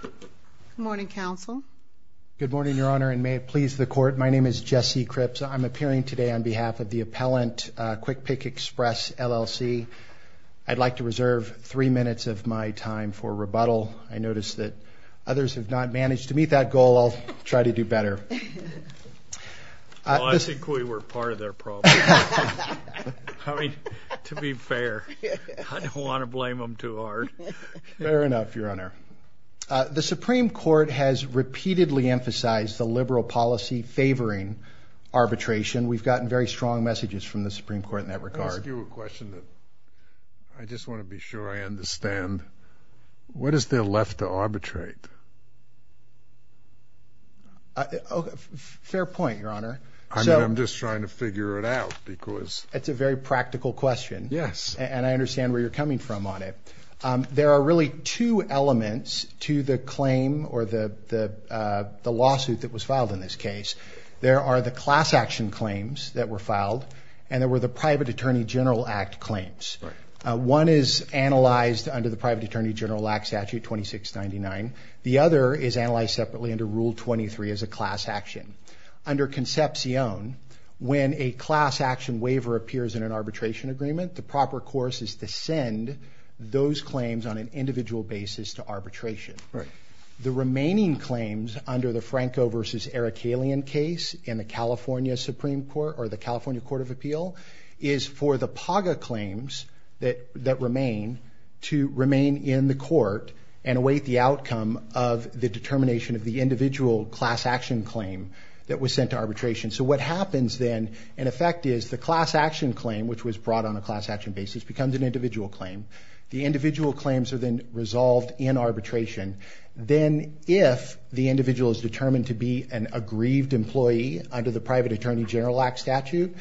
Good morning, Counsel. Good morning, Your Honor, and may it please the Court, my name is Jesse Cripps. I'm appearing today on behalf of the appellant, Quik Pick Express, LLC. I'd like to reserve three minutes of my time for rebuttal. I notice that others have not managed to meet that goal. I'll try to do better. I think we were part of their problem. I mean, to be fair, I don't want to blame them too hard. Fair enough, Your Honor. The Supreme Court has repeatedly emphasized the liberal policy favoring arbitration. We've gotten very strong messages from the Supreme Court in that regard. Let me ask you a question that I just want to be sure I understand. What is there left to arbitrate? Fair point, Your Honor. I mean, I'm just trying to figure it out because— It's a very practical question. Yes. And I understand where you're coming from on it. There are really two elements to the claim or the lawsuit that was filed in this case. There are the class action claims that were filed, and there were the Private Attorney General Act claims. One is analyzed under the Private Attorney General Act Statute 2699. The other is analyzed separately under Rule 23 as a class action. Under Concepcion, when a class action waiver appears in an arbitration agreement, the proper course is to send those claims on an individual basis to arbitration. Right. The remaining claims under the Franco v. Erickalian case in the California Supreme Court or the California Court of Appeal is for the PAGA claims that remain to remain in the court and await the outcome of the determination of the individual class action claim that was sent to arbitration. So what happens then, in effect, is the class action claim, which was brought on a class action basis, becomes an individual claim. The individual claims are then resolved in arbitration. Then if the individual is determined to be an aggrieved employee under the Private Attorney General Act Statute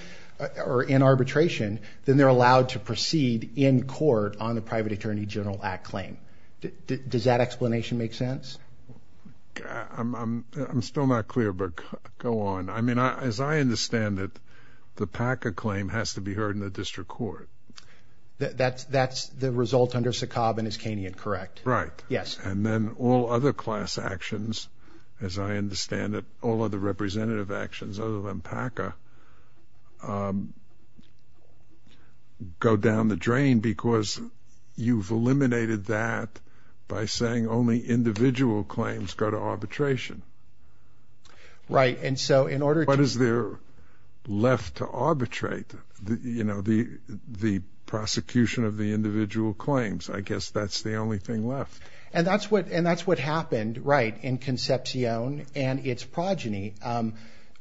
or in arbitration, then they're allowed to proceed in court on the Private Attorney General Act claim. Does that explanation make sense? I'm still not clear, but go on. I mean, as I understand it, the PAGA claim has to be heard in the district court. That's the result under Sakob and Iskanian, correct? Right. Yes. And then all other class actions, as I understand it, all other representative actions other than PAGA, go down the drain because you've eliminated that by saying only individual claims go to arbitration. Right. And so in order to What is there left to arbitrate? You know, the prosecution of the individual claims. I guess that's the only thing left. And that's what happened, right, in Concepcion and its progeny.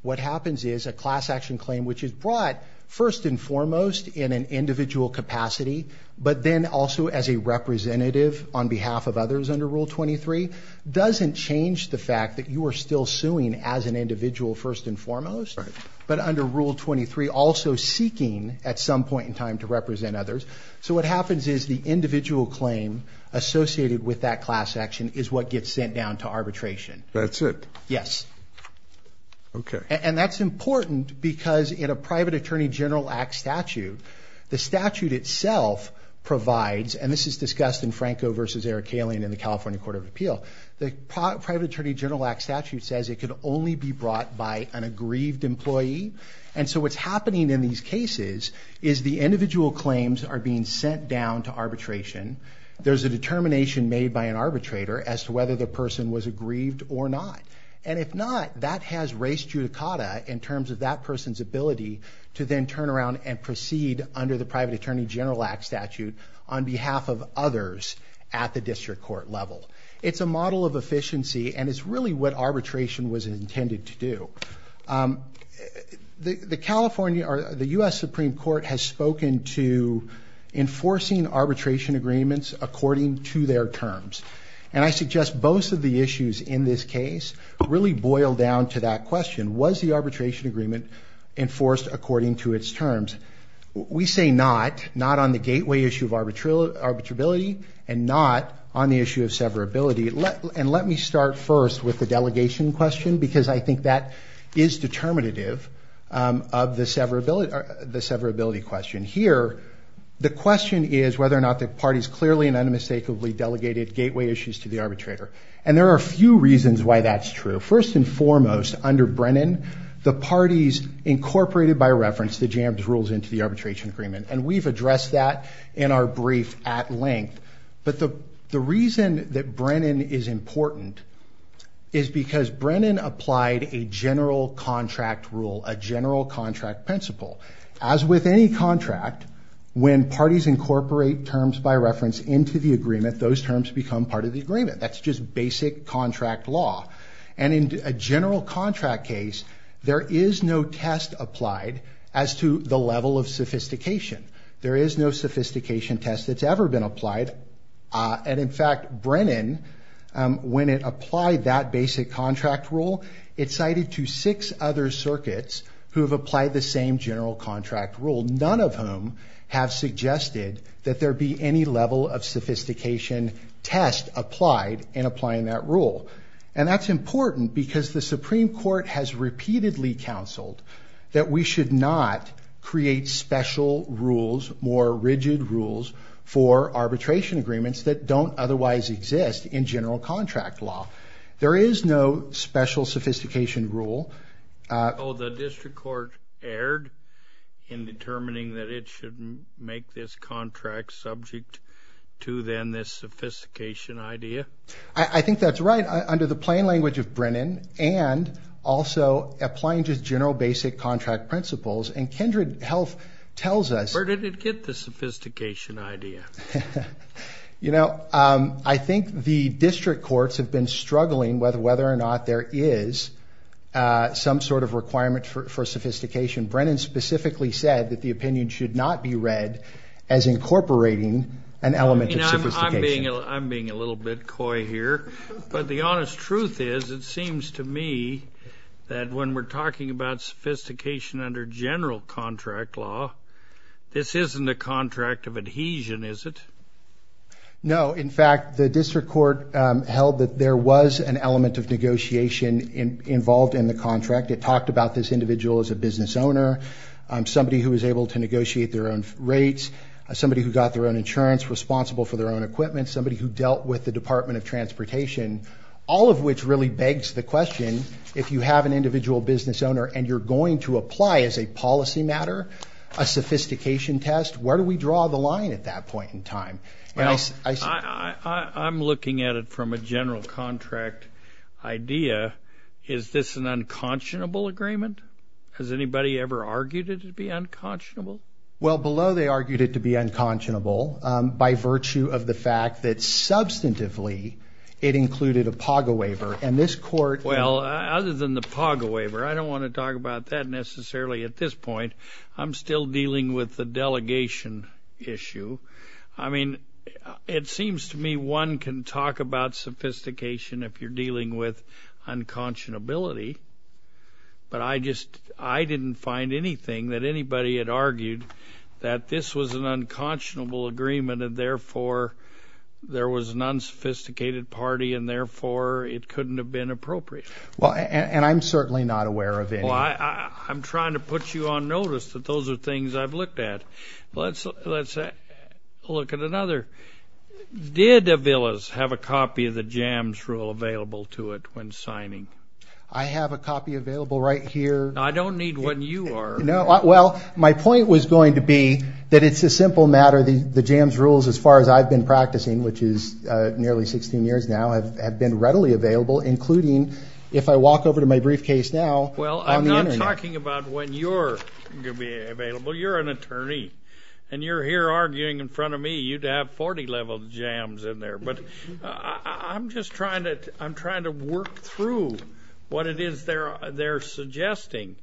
What happens is a class action claim which is brought, first and foremost, in an individual capacity, but then also as a representative on behalf of others under Rule 23, doesn't change the fact that you are still suing as an individual, first and foremost, but under Rule 23 also seeking at some point in time to represent others. So what happens is the individual claim associated with that class action is what gets sent down to arbitration. That's it? Yes. Okay. And that's important because in a Private Attorney General Act statute, the statute itself provides, and this is discussed in Franco v. Eric Kaling in the California Court of Appeal, the Private Attorney General Act statute says it can only be brought by an aggrieved employee. And so what's happening in these cases is the individual claims are being sent down to arbitration. There's a determination made by an arbitrator as to whether the person was aggrieved or not. And if not, that has race judicata in terms of that person's ability to then turn around and proceed under the Private Attorney General Act statute on behalf of others at the district court level. It's a model of efficiency, and it's really what arbitration was intended to do. The California or the U.S. Supreme Court has spoken to enforcing arbitration agreements according to their terms. And I suggest both of the issues in this case really boil down to that question. Was the arbitration agreement enforced according to its terms? We say not, not on the gateway issue of arbitrability and not on the issue of severability. And let me start first with the delegation question because I think that is determinative of the severability question. Here, the question is whether or not the parties clearly and unmistakably delegated gateway issues to the arbitrator. And there are a few reasons why that's true. First and foremost, under Brennan, the parties incorporated by reference the J.A.B.S. rules into the arbitration agreement. And we've addressed that in our brief at length. But the reason that Brennan is important is because Brennan applied a general contract rule, a general contract principle. As with any contract, when parties incorporate terms by reference into the agreement, those terms become part of the agreement. That's just basic contract law. And in a general contract case, there is no test applied as to the level of sophistication. There is no sophistication test that's ever been applied. And in fact, Brennan, when it applied that basic contract rule, it cited to six other circuits who have applied the same general contract rule, none of whom have suggested that there be any level of sophistication test applied in applying that rule. And that's important because the Supreme Court has repeatedly counseled that we should not create special rules, more rigid rules for arbitration agreements that don't otherwise exist in general contract law. There is no special sophistication rule. Oh, the district court erred in determining that it should make this contract subject to then this sophistication idea. I think that's right under the plain language of Brennan and also applying just general basic contract principles. And Kindred Health tells us. Where did it get the sophistication idea? You know, I think the district courts have been struggling whether or not there is some sort of requirement for sophistication. Brennan specifically said that the opinion should not be read as incorporating an element of sophistication. I'm being a little bit coy here. But the honest truth is, it seems to me that when we're talking about sophistication under general contract law, this isn't a contract of adhesion, is it? No. In fact, the district court held that there was an element of negotiation involved in the contract. It talked about this individual as a business owner, somebody who was able to negotiate their own rates, somebody who got their own insurance responsible for their own equipment, somebody who dealt with the Department of Transportation, all of which really begs the question, if you have an individual business owner and you're going to apply as a policy matter a sophistication test, where do we draw the line at that point in time? I'm looking at it from a general contract idea. Is this an unconscionable agreement? Has anybody ever argued it to be unconscionable? Well, below they argued it to be unconscionable by virtue of the fact that substantively it included a PAGA waiver. And this court – Well, other than the PAGA waiver, I don't want to talk about that necessarily at this point. I'm still dealing with the delegation issue. I mean, it seems to me one can talk about sophistication if you're dealing with unconscionability. But I just – I didn't find anything that anybody had argued that this was an unconscionable agreement and therefore there was an unsophisticated party and therefore it couldn't have been appropriate. Well, and I'm certainly not aware of any. Well, I'm trying to put you on notice that those are things I've looked at. Let's look at another. Did Davillas have a copy of the JAMS rule available to it when signing? I have a copy available right here. I don't need one. You are. Well, my point was going to be that it's a simple matter. The JAMS rules, as far as I've been practicing, which is nearly 16 years now, have been readily available, including if I walk over to my briefcase now on the Internet. Well, I'm not talking about when you're going to be available. You're an attorney, and you're here arguing in front of me you'd have 40-level JAMS in there. But I'm just trying to work through what it is they're suggesting.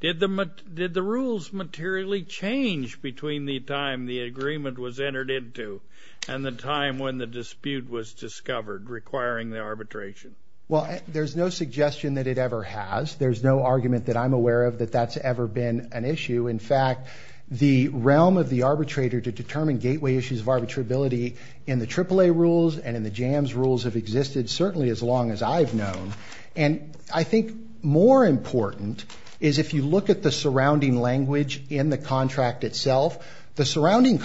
Did the rules materially change between the time the agreement was entered into and the time when the dispute was discovered requiring the arbitration? Well, there's no suggestion that it ever has. There's no argument that I'm aware of that that's ever been an issue. In fact, the realm of the arbitrator to determine gateway issues of arbitrability in the AAA rules and in the JAMS rules have existed certainly as long as I've known. And I think more important is if you look at the surrounding language in the contract itself, the surrounding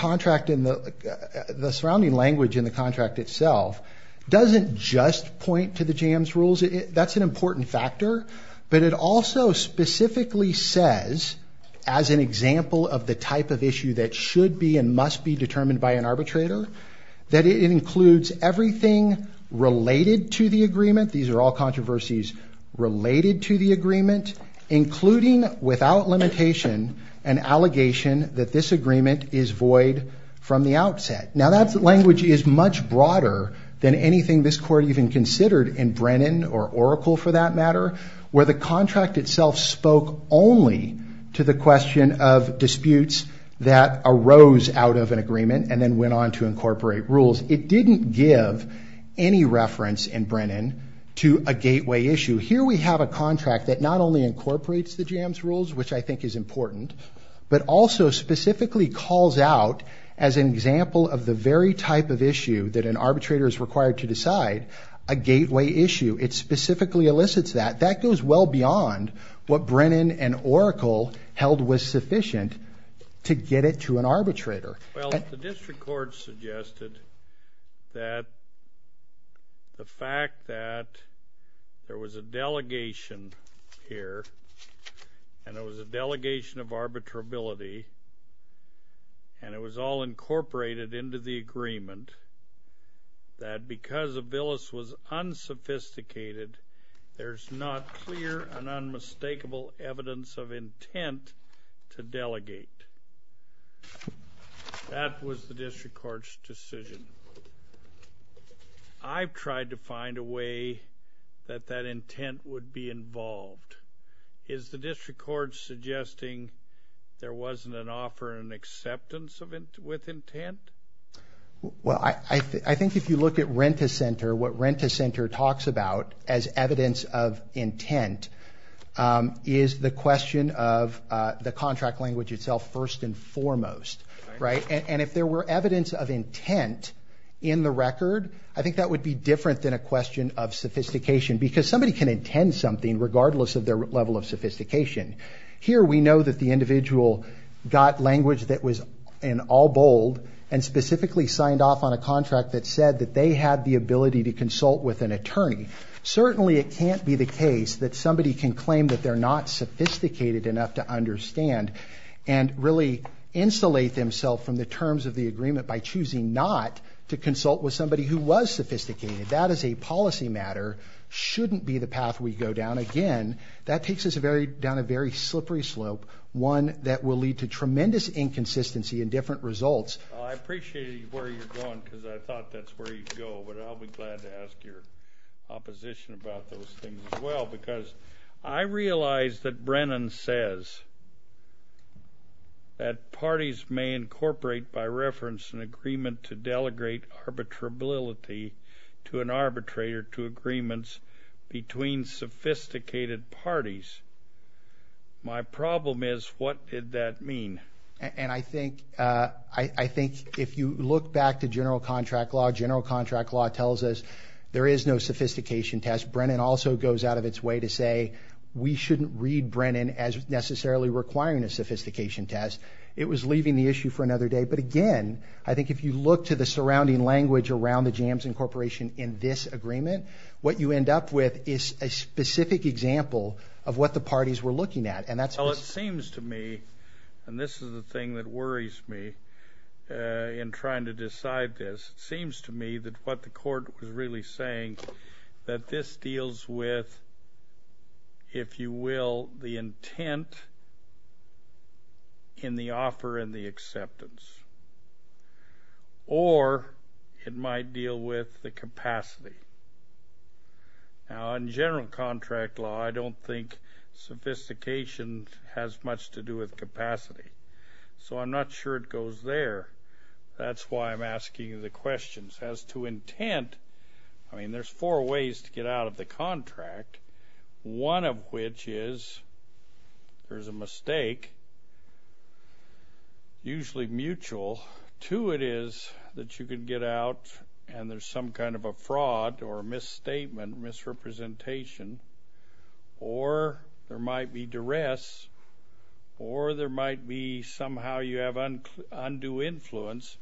language in the contract itself doesn't just point to the JAMS rules. That's an important factor. But it also specifically says, as an example of the type of issue that should be and must be determined by an arbitrator, that it includes everything related to the agreement. These are all controversies related to the agreement, including without limitation an allegation that this agreement is void from the outset. Now, that language is much broader than anything this court even considered in Brennan or Oracle, for that matter, where the contract itself spoke only to the question of disputes that arose out of an agreement and then went on to incorporate rules. It didn't give any reference in Brennan to a gateway issue. Here we have a contract that not only incorporates the JAMS rules, which I think is important, but also specifically calls out, as an example of the very type of issue that an arbitrator is required to decide, a gateway issue. It specifically elicits that. That goes well beyond what Brennan and Oracle held was sufficient to get it to an arbitrator. Well, the district court suggested that the fact that there was a delegation here, and it was a delegation of arbitrability, and it was all incorporated into the agreement, that because Aviles was unsophisticated, there's not clear and unmistakable evidence of intent to delegate. That was the district court's decision. I've tried to find a way that that intent would be involved. Is the district court suggesting there wasn't an offer and acceptance with intent? Well, I think if you look at Rent-A-Center, what Rent-A-Center talks about as evidence of intent is the question of the contract language itself first and foremost, right? And if there were evidence of intent in the record, I think that would be different than a question of sophistication, because somebody can intend something regardless of their level of sophistication. Here, we know that the individual got language that was in all bold, and specifically signed off on a contract that said that they had the ability to consult with an attorney. Certainly, it can't be the case that somebody can claim that they're not sophisticated enough to understand and really insulate themselves from the terms of the agreement by choosing not to consult with somebody who was sophisticated. That is a policy matter. Shouldn't be the path we go down. Again, that takes us down a very slippery slope, one that will lead to tremendous inconsistency and different results. I appreciate where you're going, because I thought that's where you'd go, but I'll be glad to ask your opposition about those things as well, because I realize that Brennan says that parties may incorporate by reference an agreement to delegate arbitrability to an arbitrator to agreements between sophisticated parties. My problem is, what did that mean? And I think if you look back to general contract law, general contract law tells us there is no sophistication test. Brennan also goes out of its way to say we shouldn't read Brennan as necessarily requiring a sophistication test. It was leaving the issue for another day. But again, I think if you look to the surrounding language around the jams incorporation in this agreement, what you end up with is a specific example of what the parties were looking at. Well, it seems to me, and this is the thing that worries me in trying to decide this, it seems to me that what the court was really saying that this deals with, if you will, the intent in the offer and the acceptance, or it might deal with the capacity. Now, in general contract law, I don't think sophistication has much to do with capacity, so I'm not sure it goes there. That's why I'm asking you the questions. As to intent, I mean, there's four ways to get out of the contract, one of which is there's a mistake, usually mutual. Two, it is that you could get out and there's some kind of a fraud or misstatement, misrepresentation, or there might be duress, or there might be somehow you have undue influence,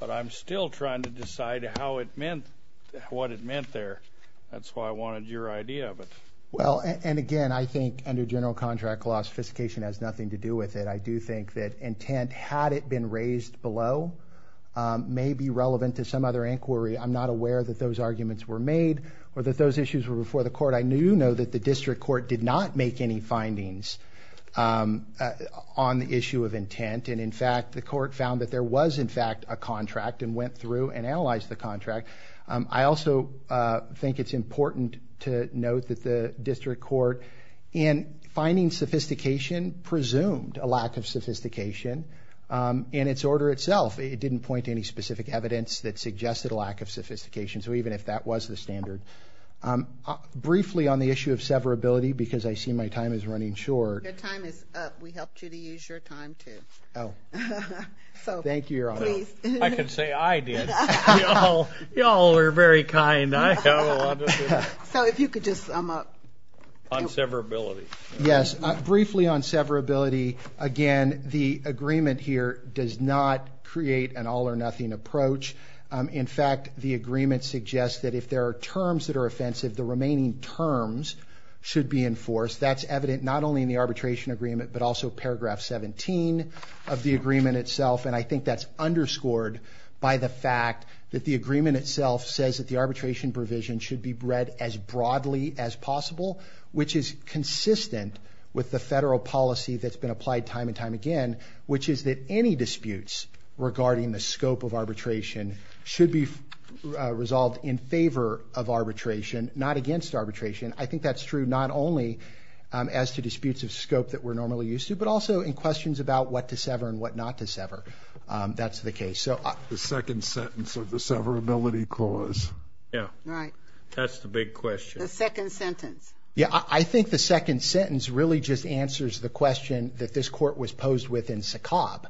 but I'm still trying to decide what it meant there. That's why I wanted your idea of it. Well, and again, I think under general contract law, sophistication has nothing to do with it. I do think that intent, had it been raised below, may be relevant to some other inquiry. I'm not aware that those arguments were made or that those issues were before the court. I do know that the district court did not make any findings on the issue of intent, and, in fact, the court found that there was, in fact, a contract and went through and analyzed the contract. I also think it's important to note that the district court, in finding sophistication, presumed a lack of sophistication in its order itself. It didn't point to any specific evidence that suggested a lack of sophistication, even if that was the standard. Briefly on the issue of severability, because I see my time is running short. Your time is up. We helped you to use your time, too. Oh. So, please. Thank you, Your Honor. I can say I did. You all are very kind. So if you could just sum up. On severability. Yes. Briefly on severability, again, the agreement here does not create an all-or-nothing approach. In fact, the agreement suggests that if there are terms that are offensive, the remaining terms should be enforced. That's evident not only in the arbitration agreement, but also paragraph 17 of the agreement itself, and I think that's underscored by the fact that the agreement itself says that the arbitration provision should be read as broadly as possible, which is consistent with the federal policy that's been applied time and time again, which is that any disputes regarding the scope of arbitration should be resolved in favor of arbitration, not against arbitration. I think that's true not only as to disputes of scope that we're normally used to, but also in questions about what to sever and what not to sever. That's the case. The second sentence of the severability clause. Yeah. Right. That's the big question. The second sentence. Yeah. I think the second sentence really just answers the question that this court was posed with in SACOB.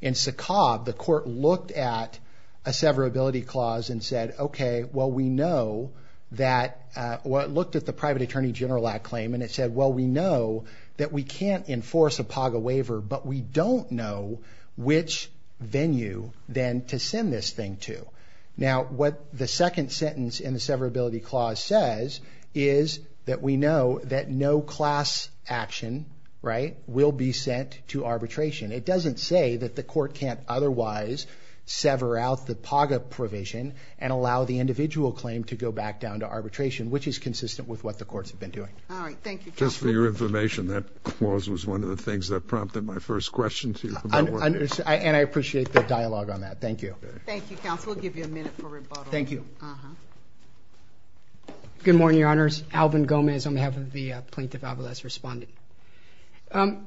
In SACOB, the court looked at a severability clause and said, okay, well, we know that, well, it looked at the private attorney general at claim, and it said, well, we know that we can't enforce a PAGA waiver, but we don't know which venue then to send this thing to. Now, what the second sentence in the severability clause says is that we know that no class action, right, will be sent to arbitration. It doesn't say that the court can't otherwise sever out the PAGA provision and allow the individual claim to go back down to arbitration, which is consistent with what the courts have been doing. All right. Thank you. Just for your information, that clause was one of the things that prompted my first question to you. And I appreciate the dialogue on that. Thank you. Thank you, counsel. We'll give you a minute for rebuttal. Thank you. Good morning, Your Honors. Alvin Gomez on behalf of the Plaintiff Alvarez responding. The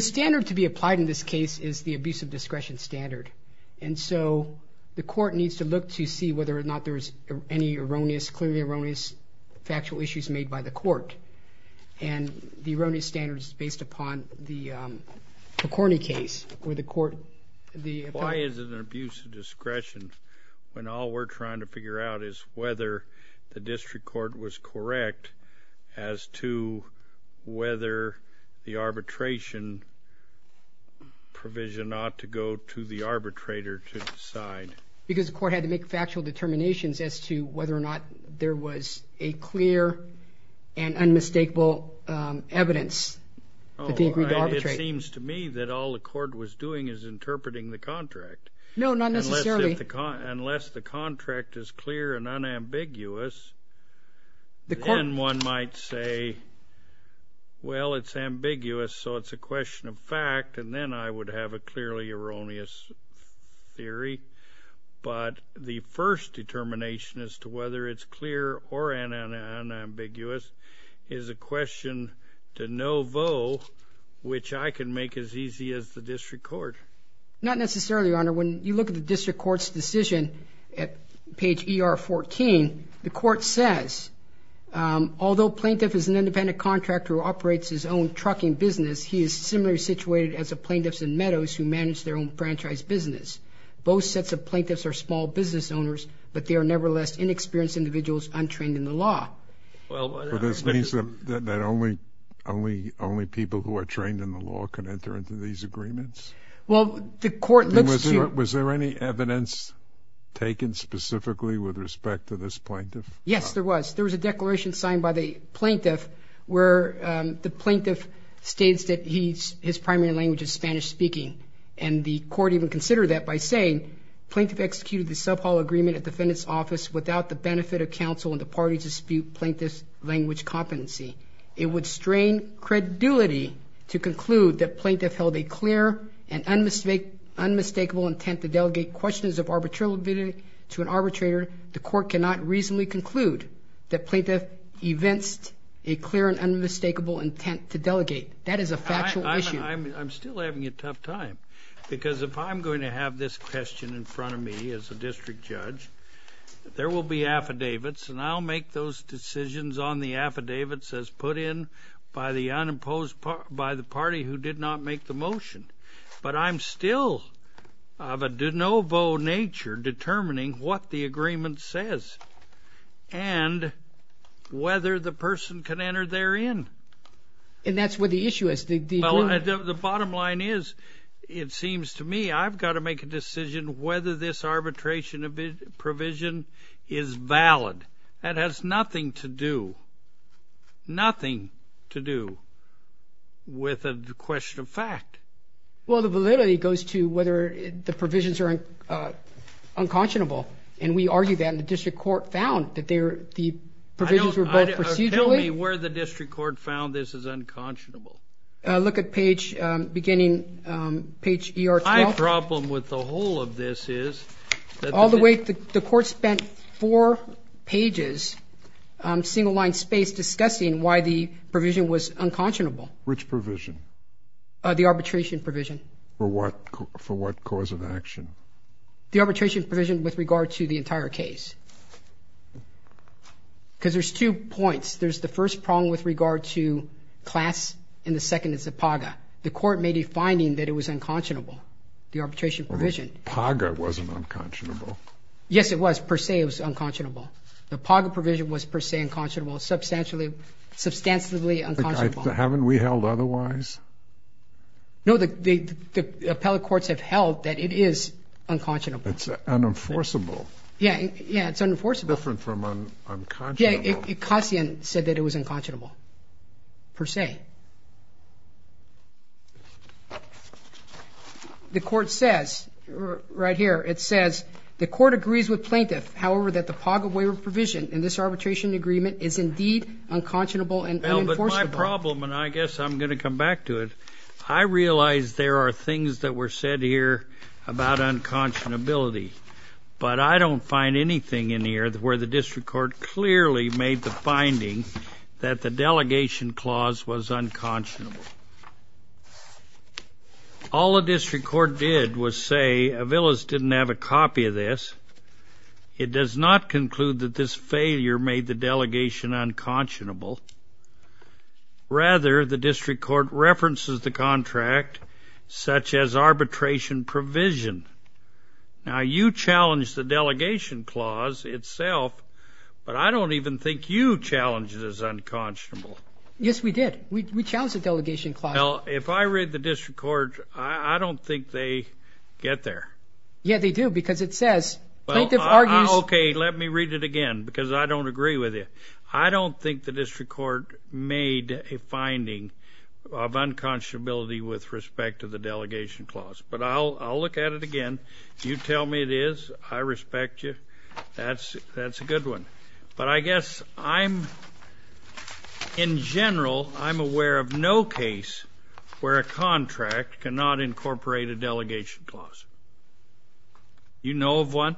standard to be applied in this case is the abuse of discretion standard. And so the court needs to look to see whether or not there is any erroneous, clearly erroneous factual issues made by the court. And the erroneous standard is based upon the McCorney case where the court, the appeal. Why is it an abuse of discretion when all we're trying to figure out is whether the district court was correct as to whether the arbitration provision ought to go to the arbitrator to decide? Because the court had to make factual determinations as to whether or not there was a clear and unmistakable evidence that they agreed to arbitrate. It seems to me that all the court was doing is interpreting the contract. No, not necessarily. Unless the contract is clear and unambiguous, then one might say, well, it's ambiguous, so it's a question of fact, and then I would have a clearly erroneous theory. But the first determination as to whether it's clear or unambiguous is a question to no vo, which I can make as easy as the district court. Not necessarily, Your Honor. When you look at the district court's decision at page ER14, the court says, although plaintiff is an independent contractor who operates his own trucking business, he is similarly situated as the plaintiffs in Meadows who manage their own franchise business. Both sets of plaintiffs are small business owners, but they are nevertheless inexperienced individuals untrained in the law. Well, this means that only people who are trained in the law can enter into these agreements? Well, the court looks to you. Was there any evidence taken specifically with respect to this plaintiff? Yes, there was. There was a declaration signed by the plaintiff where the plaintiff states that his primary language is Spanish-speaking, and the court even considered that by saying, plaintiff executed the sub-hall agreement at defendant's office without the benefit of counsel and the parties dispute plaintiff's language competency. It would strain credulity to conclude that plaintiff held a clear and unmistakable intent to delegate questions of arbitrariness to an arbitrator. The court cannot reasonably conclude that plaintiff evinced a clear and unmistakable intent to delegate. That is a factual issue. I'm still having a tough time because if I'm going to have this question in front of me as a district judge, there will be affidavits, and I'll make those decisions on the affidavits as put in by the party who did not make the motion. But I'm still of a de novo nature determining what the agreement says and whether the person can enter therein. And that's where the issue is. The bottom line is it seems to me I've got to make a decision whether this arbitration provision is valid. That has nothing to do, nothing to do with a question of fact. Well, the validity goes to whether the provisions are unconscionable. And we argue that, and the district court found that the provisions were both procedurally. Tell me where the district court found this is unconscionable. Look at page beginning, page ER-12. The problem with the whole of this is. All the way, the court spent four pages, single line space, discussing why the provision was unconscionable. Which provision? The arbitration provision. For what? For what cause of action? The arbitration provision with regard to the entire case. Because there's two points. There's the first prong with regard to class, and the second is the PAGA. The court made a finding that it was unconscionable, the arbitration provision. PAGA wasn't unconscionable. Yes, it was. Per se, it was unconscionable. The PAGA provision was per se unconscionable, substantially, substantially unconscionable. Haven't we held otherwise? No, the appellate courts have held that it is unconscionable. It's unenforceable. Yeah, it's unenforceable. Different from unconscionable. Kassian said that it was unconscionable, per se. The court says, right here, it says, the court agrees with plaintiff, however, that the PAGA waiver provision in this arbitration agreement is indeed unconscionable and unenforceable. Well, but my problem, and I guess I'm going to come back to it, I realize there are things that were said here about unconscionability, but I don't find anything in here where the district court clearly made the finding that the delegation clause was unconscionable. All the district court did was say Aviles didn't have a copy of this. It does not conclude that this failure made the delegation unconscionable. Rather, the district court references the contract, such as arbitration provision. Now, you challenged the delegation clause itself, but I don't even think you challenged it as unconscionable. Yes, we did. We challenged the delegation clause. Well, if I read the district court, I don't think they get there. Yeah, they do, because it says plaintiff argues. Okay, let me read it again, because I don't agree with you. I don't think the district court made a finding of unconscionability with respect to the delegation clause, but I'll look at it again. You tell me it is. I respect you. That's a good one. But I guess I'm, in general, I'm aware of no case where a contract cannot incorporate a delegation clause. You know of one?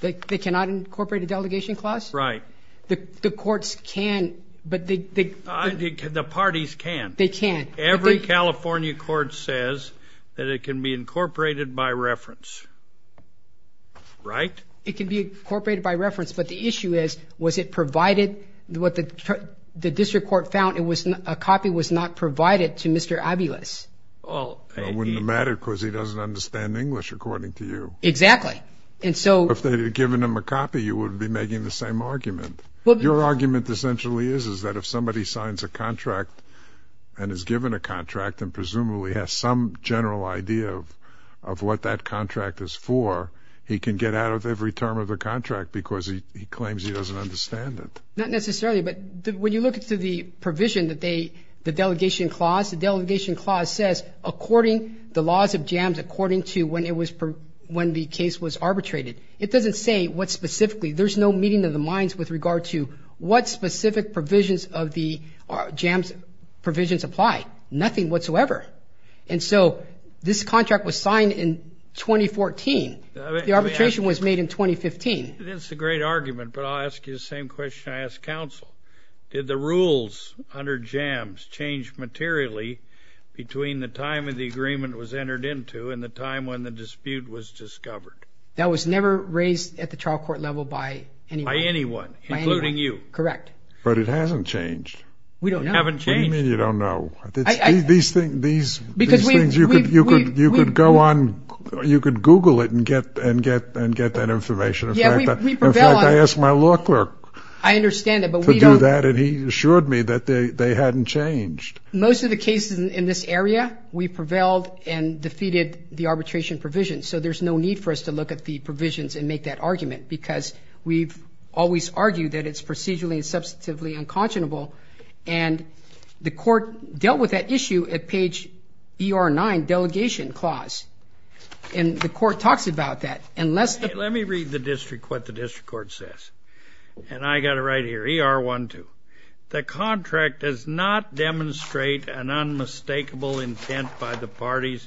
They cannot incorporate a delegation clause? Right. The courts can, but they can't. The parties can. They can. Every California court says that it can be incorporated by reference, right? It can be incorporated by reference, but the issue is, was it provided? What the district court found, a copy was not provided to Mr. Aviles. Well, it wouldn't have mattered, because he doesn't understand English, according to you. Exactly. And so. If they had given him a copy, you wouldn't be making the same argument. Your argument essentially is, is that if somebody signs a contract and is given a contract and presumably has some general idea of what that contract is for, he can get out of every term of the contract because he claims he doesn't understand it. Not necessarily, but when you look at the provision that they, the delegation clause, the delegation clause says, according to the laws of JAMS, according to when the case was arbitrated. It doesn't say what specifically. There's no meeting of the minds with regard to what specific provisions of the JAMS provisions apply. Nothing whatsoever. And so this contract was signed in 2014. The arbitration was made in 2015. That's a great argument, but I'll ask you the same question I asked counsel. Did the rules under JAMS change materially between the time the agreement was entered into and the time when the dispute was discovered? That was never raised at the trial court level by anyone. By anyone, including you. Correct. But it hasn't changed. We don't know. It hasn't changed. What do you mean you don't know? These things, you could go on, you could Google it and get that information. Yeah, we prevailed on it. In fact, I asked my law clerk to do that, and he assured me that they hadn't changed. Most of the cases in this area, we prevailed and defeated the arbitration provision, so there's no need for us to look at the provisions and make that argument because we've always argued that it's procedurally and substantively unconscionable, and the court dealt with that issue at page ER9, delegation clause, and the court talks about that. Let me read the district what the district court says, and I got it right here, ER12. The contract does not demonstrate an unmistakable intent by the parties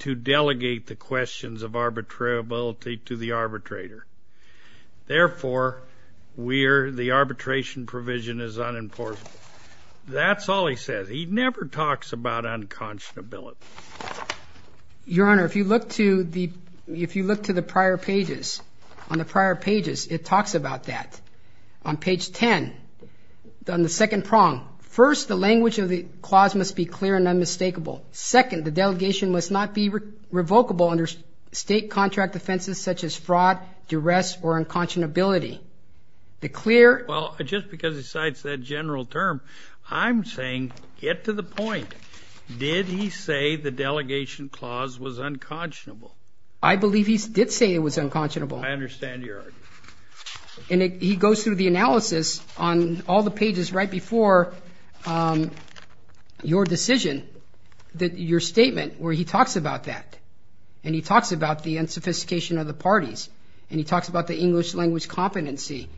to delegate the questions of arbitrability to the arbitrator. Therefore, the arbitration provision is unimportant. That's all he says. He never talks about unconscionability. Your Honor, if you look to the prior pages, on the prior pages, it talks about that. On page 10, on the second prong, first, the language of the clause must be clear and unmistakable. Second, the delegation must not be revocable under state contract offenses such as fraud, duress, or unconscionability. The clear --" Well, just because he cites that general term, I'm saying get to the point. Did he say the delegation clause was unconscionable? I believe he did say it was unconscionable. I understand your argument. And he goes through the analysis on all the pages right before your decision, your statement, where he talks about that. And he talks about the unsophistication of the parties. And he talks about the English language competency.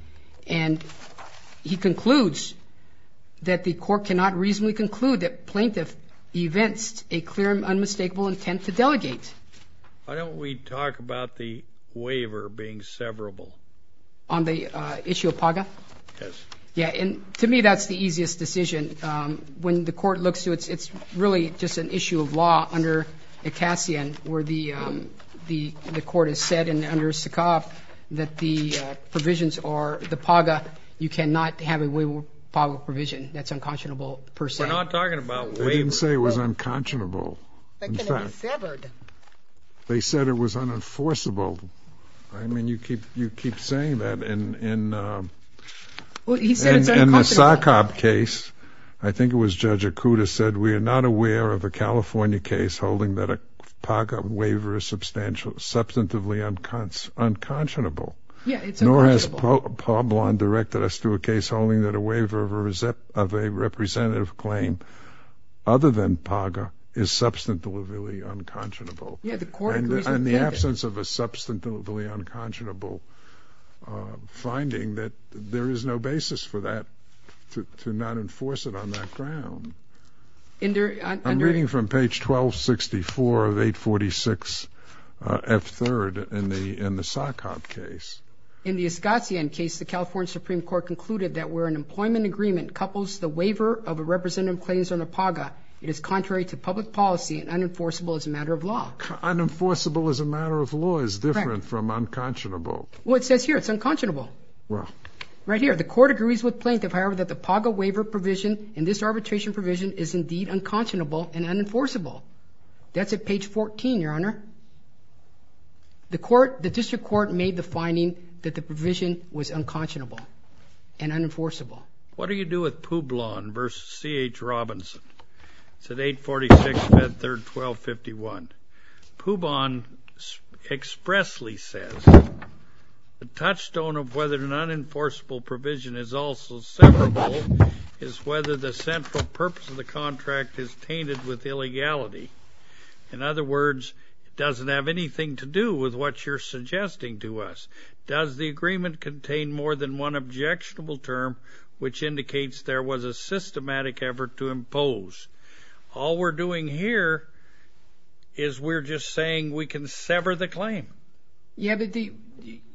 And he concludes that the court cannot reasonably conclude that plaintiff evinced a clear and unmistakable intent to delegate. Why don't we talk about the waiver being severable? On the issue of PAGA? Yes. Yeah, and to me, that's the easiest decision. When the court looks to it, it's really just an issue of law under Acasian, where the court has said under Sakoff that the provisions or the PAGA, you cannot have a waiver of PAGA provision. That's unconscionable per se. We're not talking about waiver. He didn't say it was unconscionable. But can it be severed? They said it was unenforceable. I mean, you keep saying that. Well, he said it's unconscionable. In the Sakoff case, I think it was Judge Acuda said, we are not aware of a California case holding that a PAGA waiver is substantively unconscionable. Yeah, it's unconscionable. Nor has Pablon directed us to a case holding that a waiver of a representative claim other than PAGA is substantively unconscionable. In the absence of a substantively unconscionable finding, there is no basis for that to not enforce it on that ground. I'm reading from page 1264 of 846F3rd in the Sakoff case. In the Acasian case, the California Supreme Court concluded that where an employment agreement couples the waiver of a representative claims under PAGA, it is contrary to public policy and unenforceable as a matter of law. Unenforceable as a matter of law is different from unconscionable. Well, it says here it's unconscionable. The court agrees with Plaintiff, however, that the PAGA waiver provision in this arbitration provision is indeed unconscionable and unenforceable. That's at page 14, Your Honor. The district court made the finding that the provision was unconscionable and unenforceable. What do you do with Publon v. C.H. Robinson? It's at 846F3rd 1251. Publon expressly says, the touchstone of whether an unenforceable provision is also separable is whether the central purpose of the contract is tainted with illegality. In other words, it doesn't have anything to do with what you're suggesting to us. Does the agreement contain more than one objectionable term, which indicates there was a systematic effort to impose? All we're doing here is we're just saying we can sever the claim. Yeah, but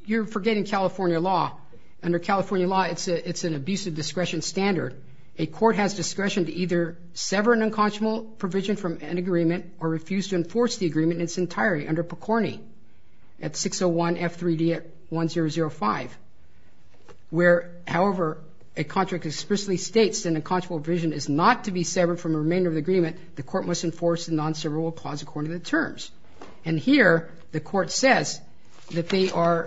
you're forgetting California law. Under California law, it's an abusive discretion standard. A court has discretion to either sever an unconscionable provision from an agreement or refuse to enforce the agreement in its entirety under PCORI at 601F3d1005, where, however, a contract explicitly states an unconscionable provision is not to be severed from a remainder of the agreement, the court must enforce the non-severable clause according to the terms. And here, the court says that they are,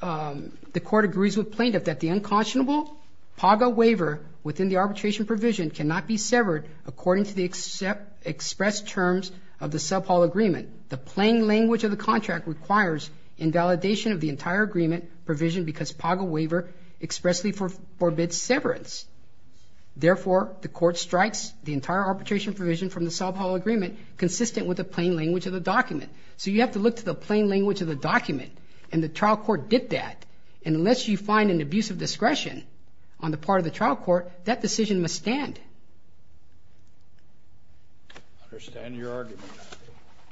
the court agrees with plaintiff that the unconscionable PAGA waiver within the arbitration provision cannot be severed according to the expressed terms of the contract requires invalidation of the entire agreement provision because PAGA waiver expressly forbids severance. Therefore, the court strikes the entire arbitration provision from the Sobhol Agreement consistent with the plain language of the document. So you have to look to the plain language of the document, and the trial court did that. And unless you find an abusive discretion on the part of the trial court, that decision must stand. I understand your argument.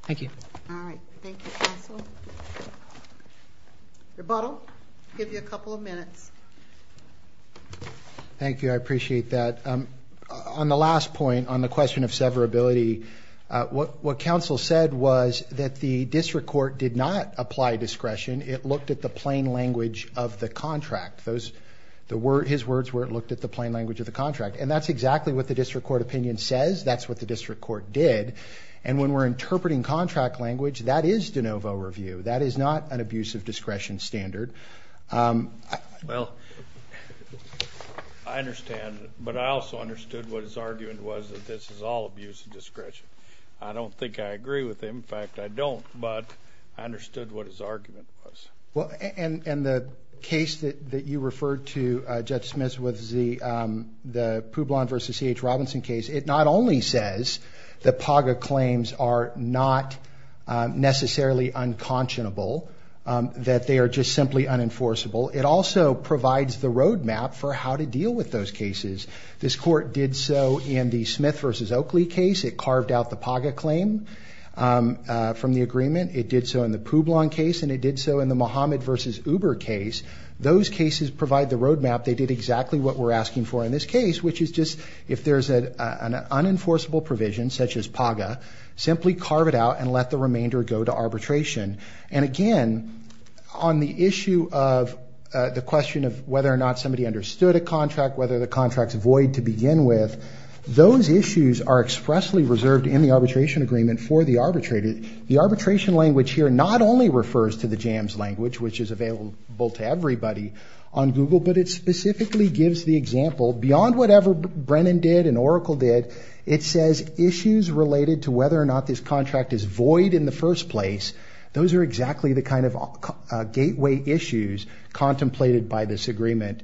Thank you. All right. Thank you, counsel. Rebuttal? I'll give you a couple of minutes. Thank you. I appreciate that. On the last point, on the question of severability, what counsel said was that the district court did not apply discretion. It looked at the plain language of the contract. His words were it looked at the plain language of the contract. And that's exactly what the district court opinion says. That's what the district court did. And when we're interpreting contract language, that is de novo review. That is not an abusive discretion standard. Well, I understand. But I also understood what his argument was that this is all abusive discretion. I don't think I agree with him. In fact, I don't. But I understood what his argument was. And the case that you referred to, Judge Smith, was the Poublon v. C.H. Robinson case. It not only says that PAGA claims are not necessarily unconscionable, that they are just simply unenforceable, it also provides the roadmap for how to deal with those cases. This court did so in the Smith v. Oakley case. It carved out the PAGA claim from the agreement. It did so in the Poublon case. And it did so in the Mohamed v. Uber case. Those cases provide the roadmap. They did exactly what we're asking for in this case, which is just if there's an unenforceable provision, such as PAGA, simply carve it out and let the remainder go to arbitration. And, again, on the issue of the question of whether or not somebody understood a contract, whether the contract's void to begin with, those issues are expressly reserved in the arbitration agreement for the arbitrator. The arbitration language here not only refers to the JAMS language, which is available to everybody on Google, but it specifically gives the example beyond whatever Brennan did and Oracle did, it says issues related to whether or not this contract is void in the first place. Those are exactly the kind of gateway issues contemplated by this agreement.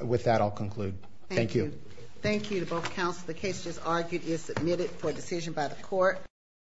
With that, I'll conclude. Thank you. Thank you to both counsel. The case just argued is submitted for decision by the court.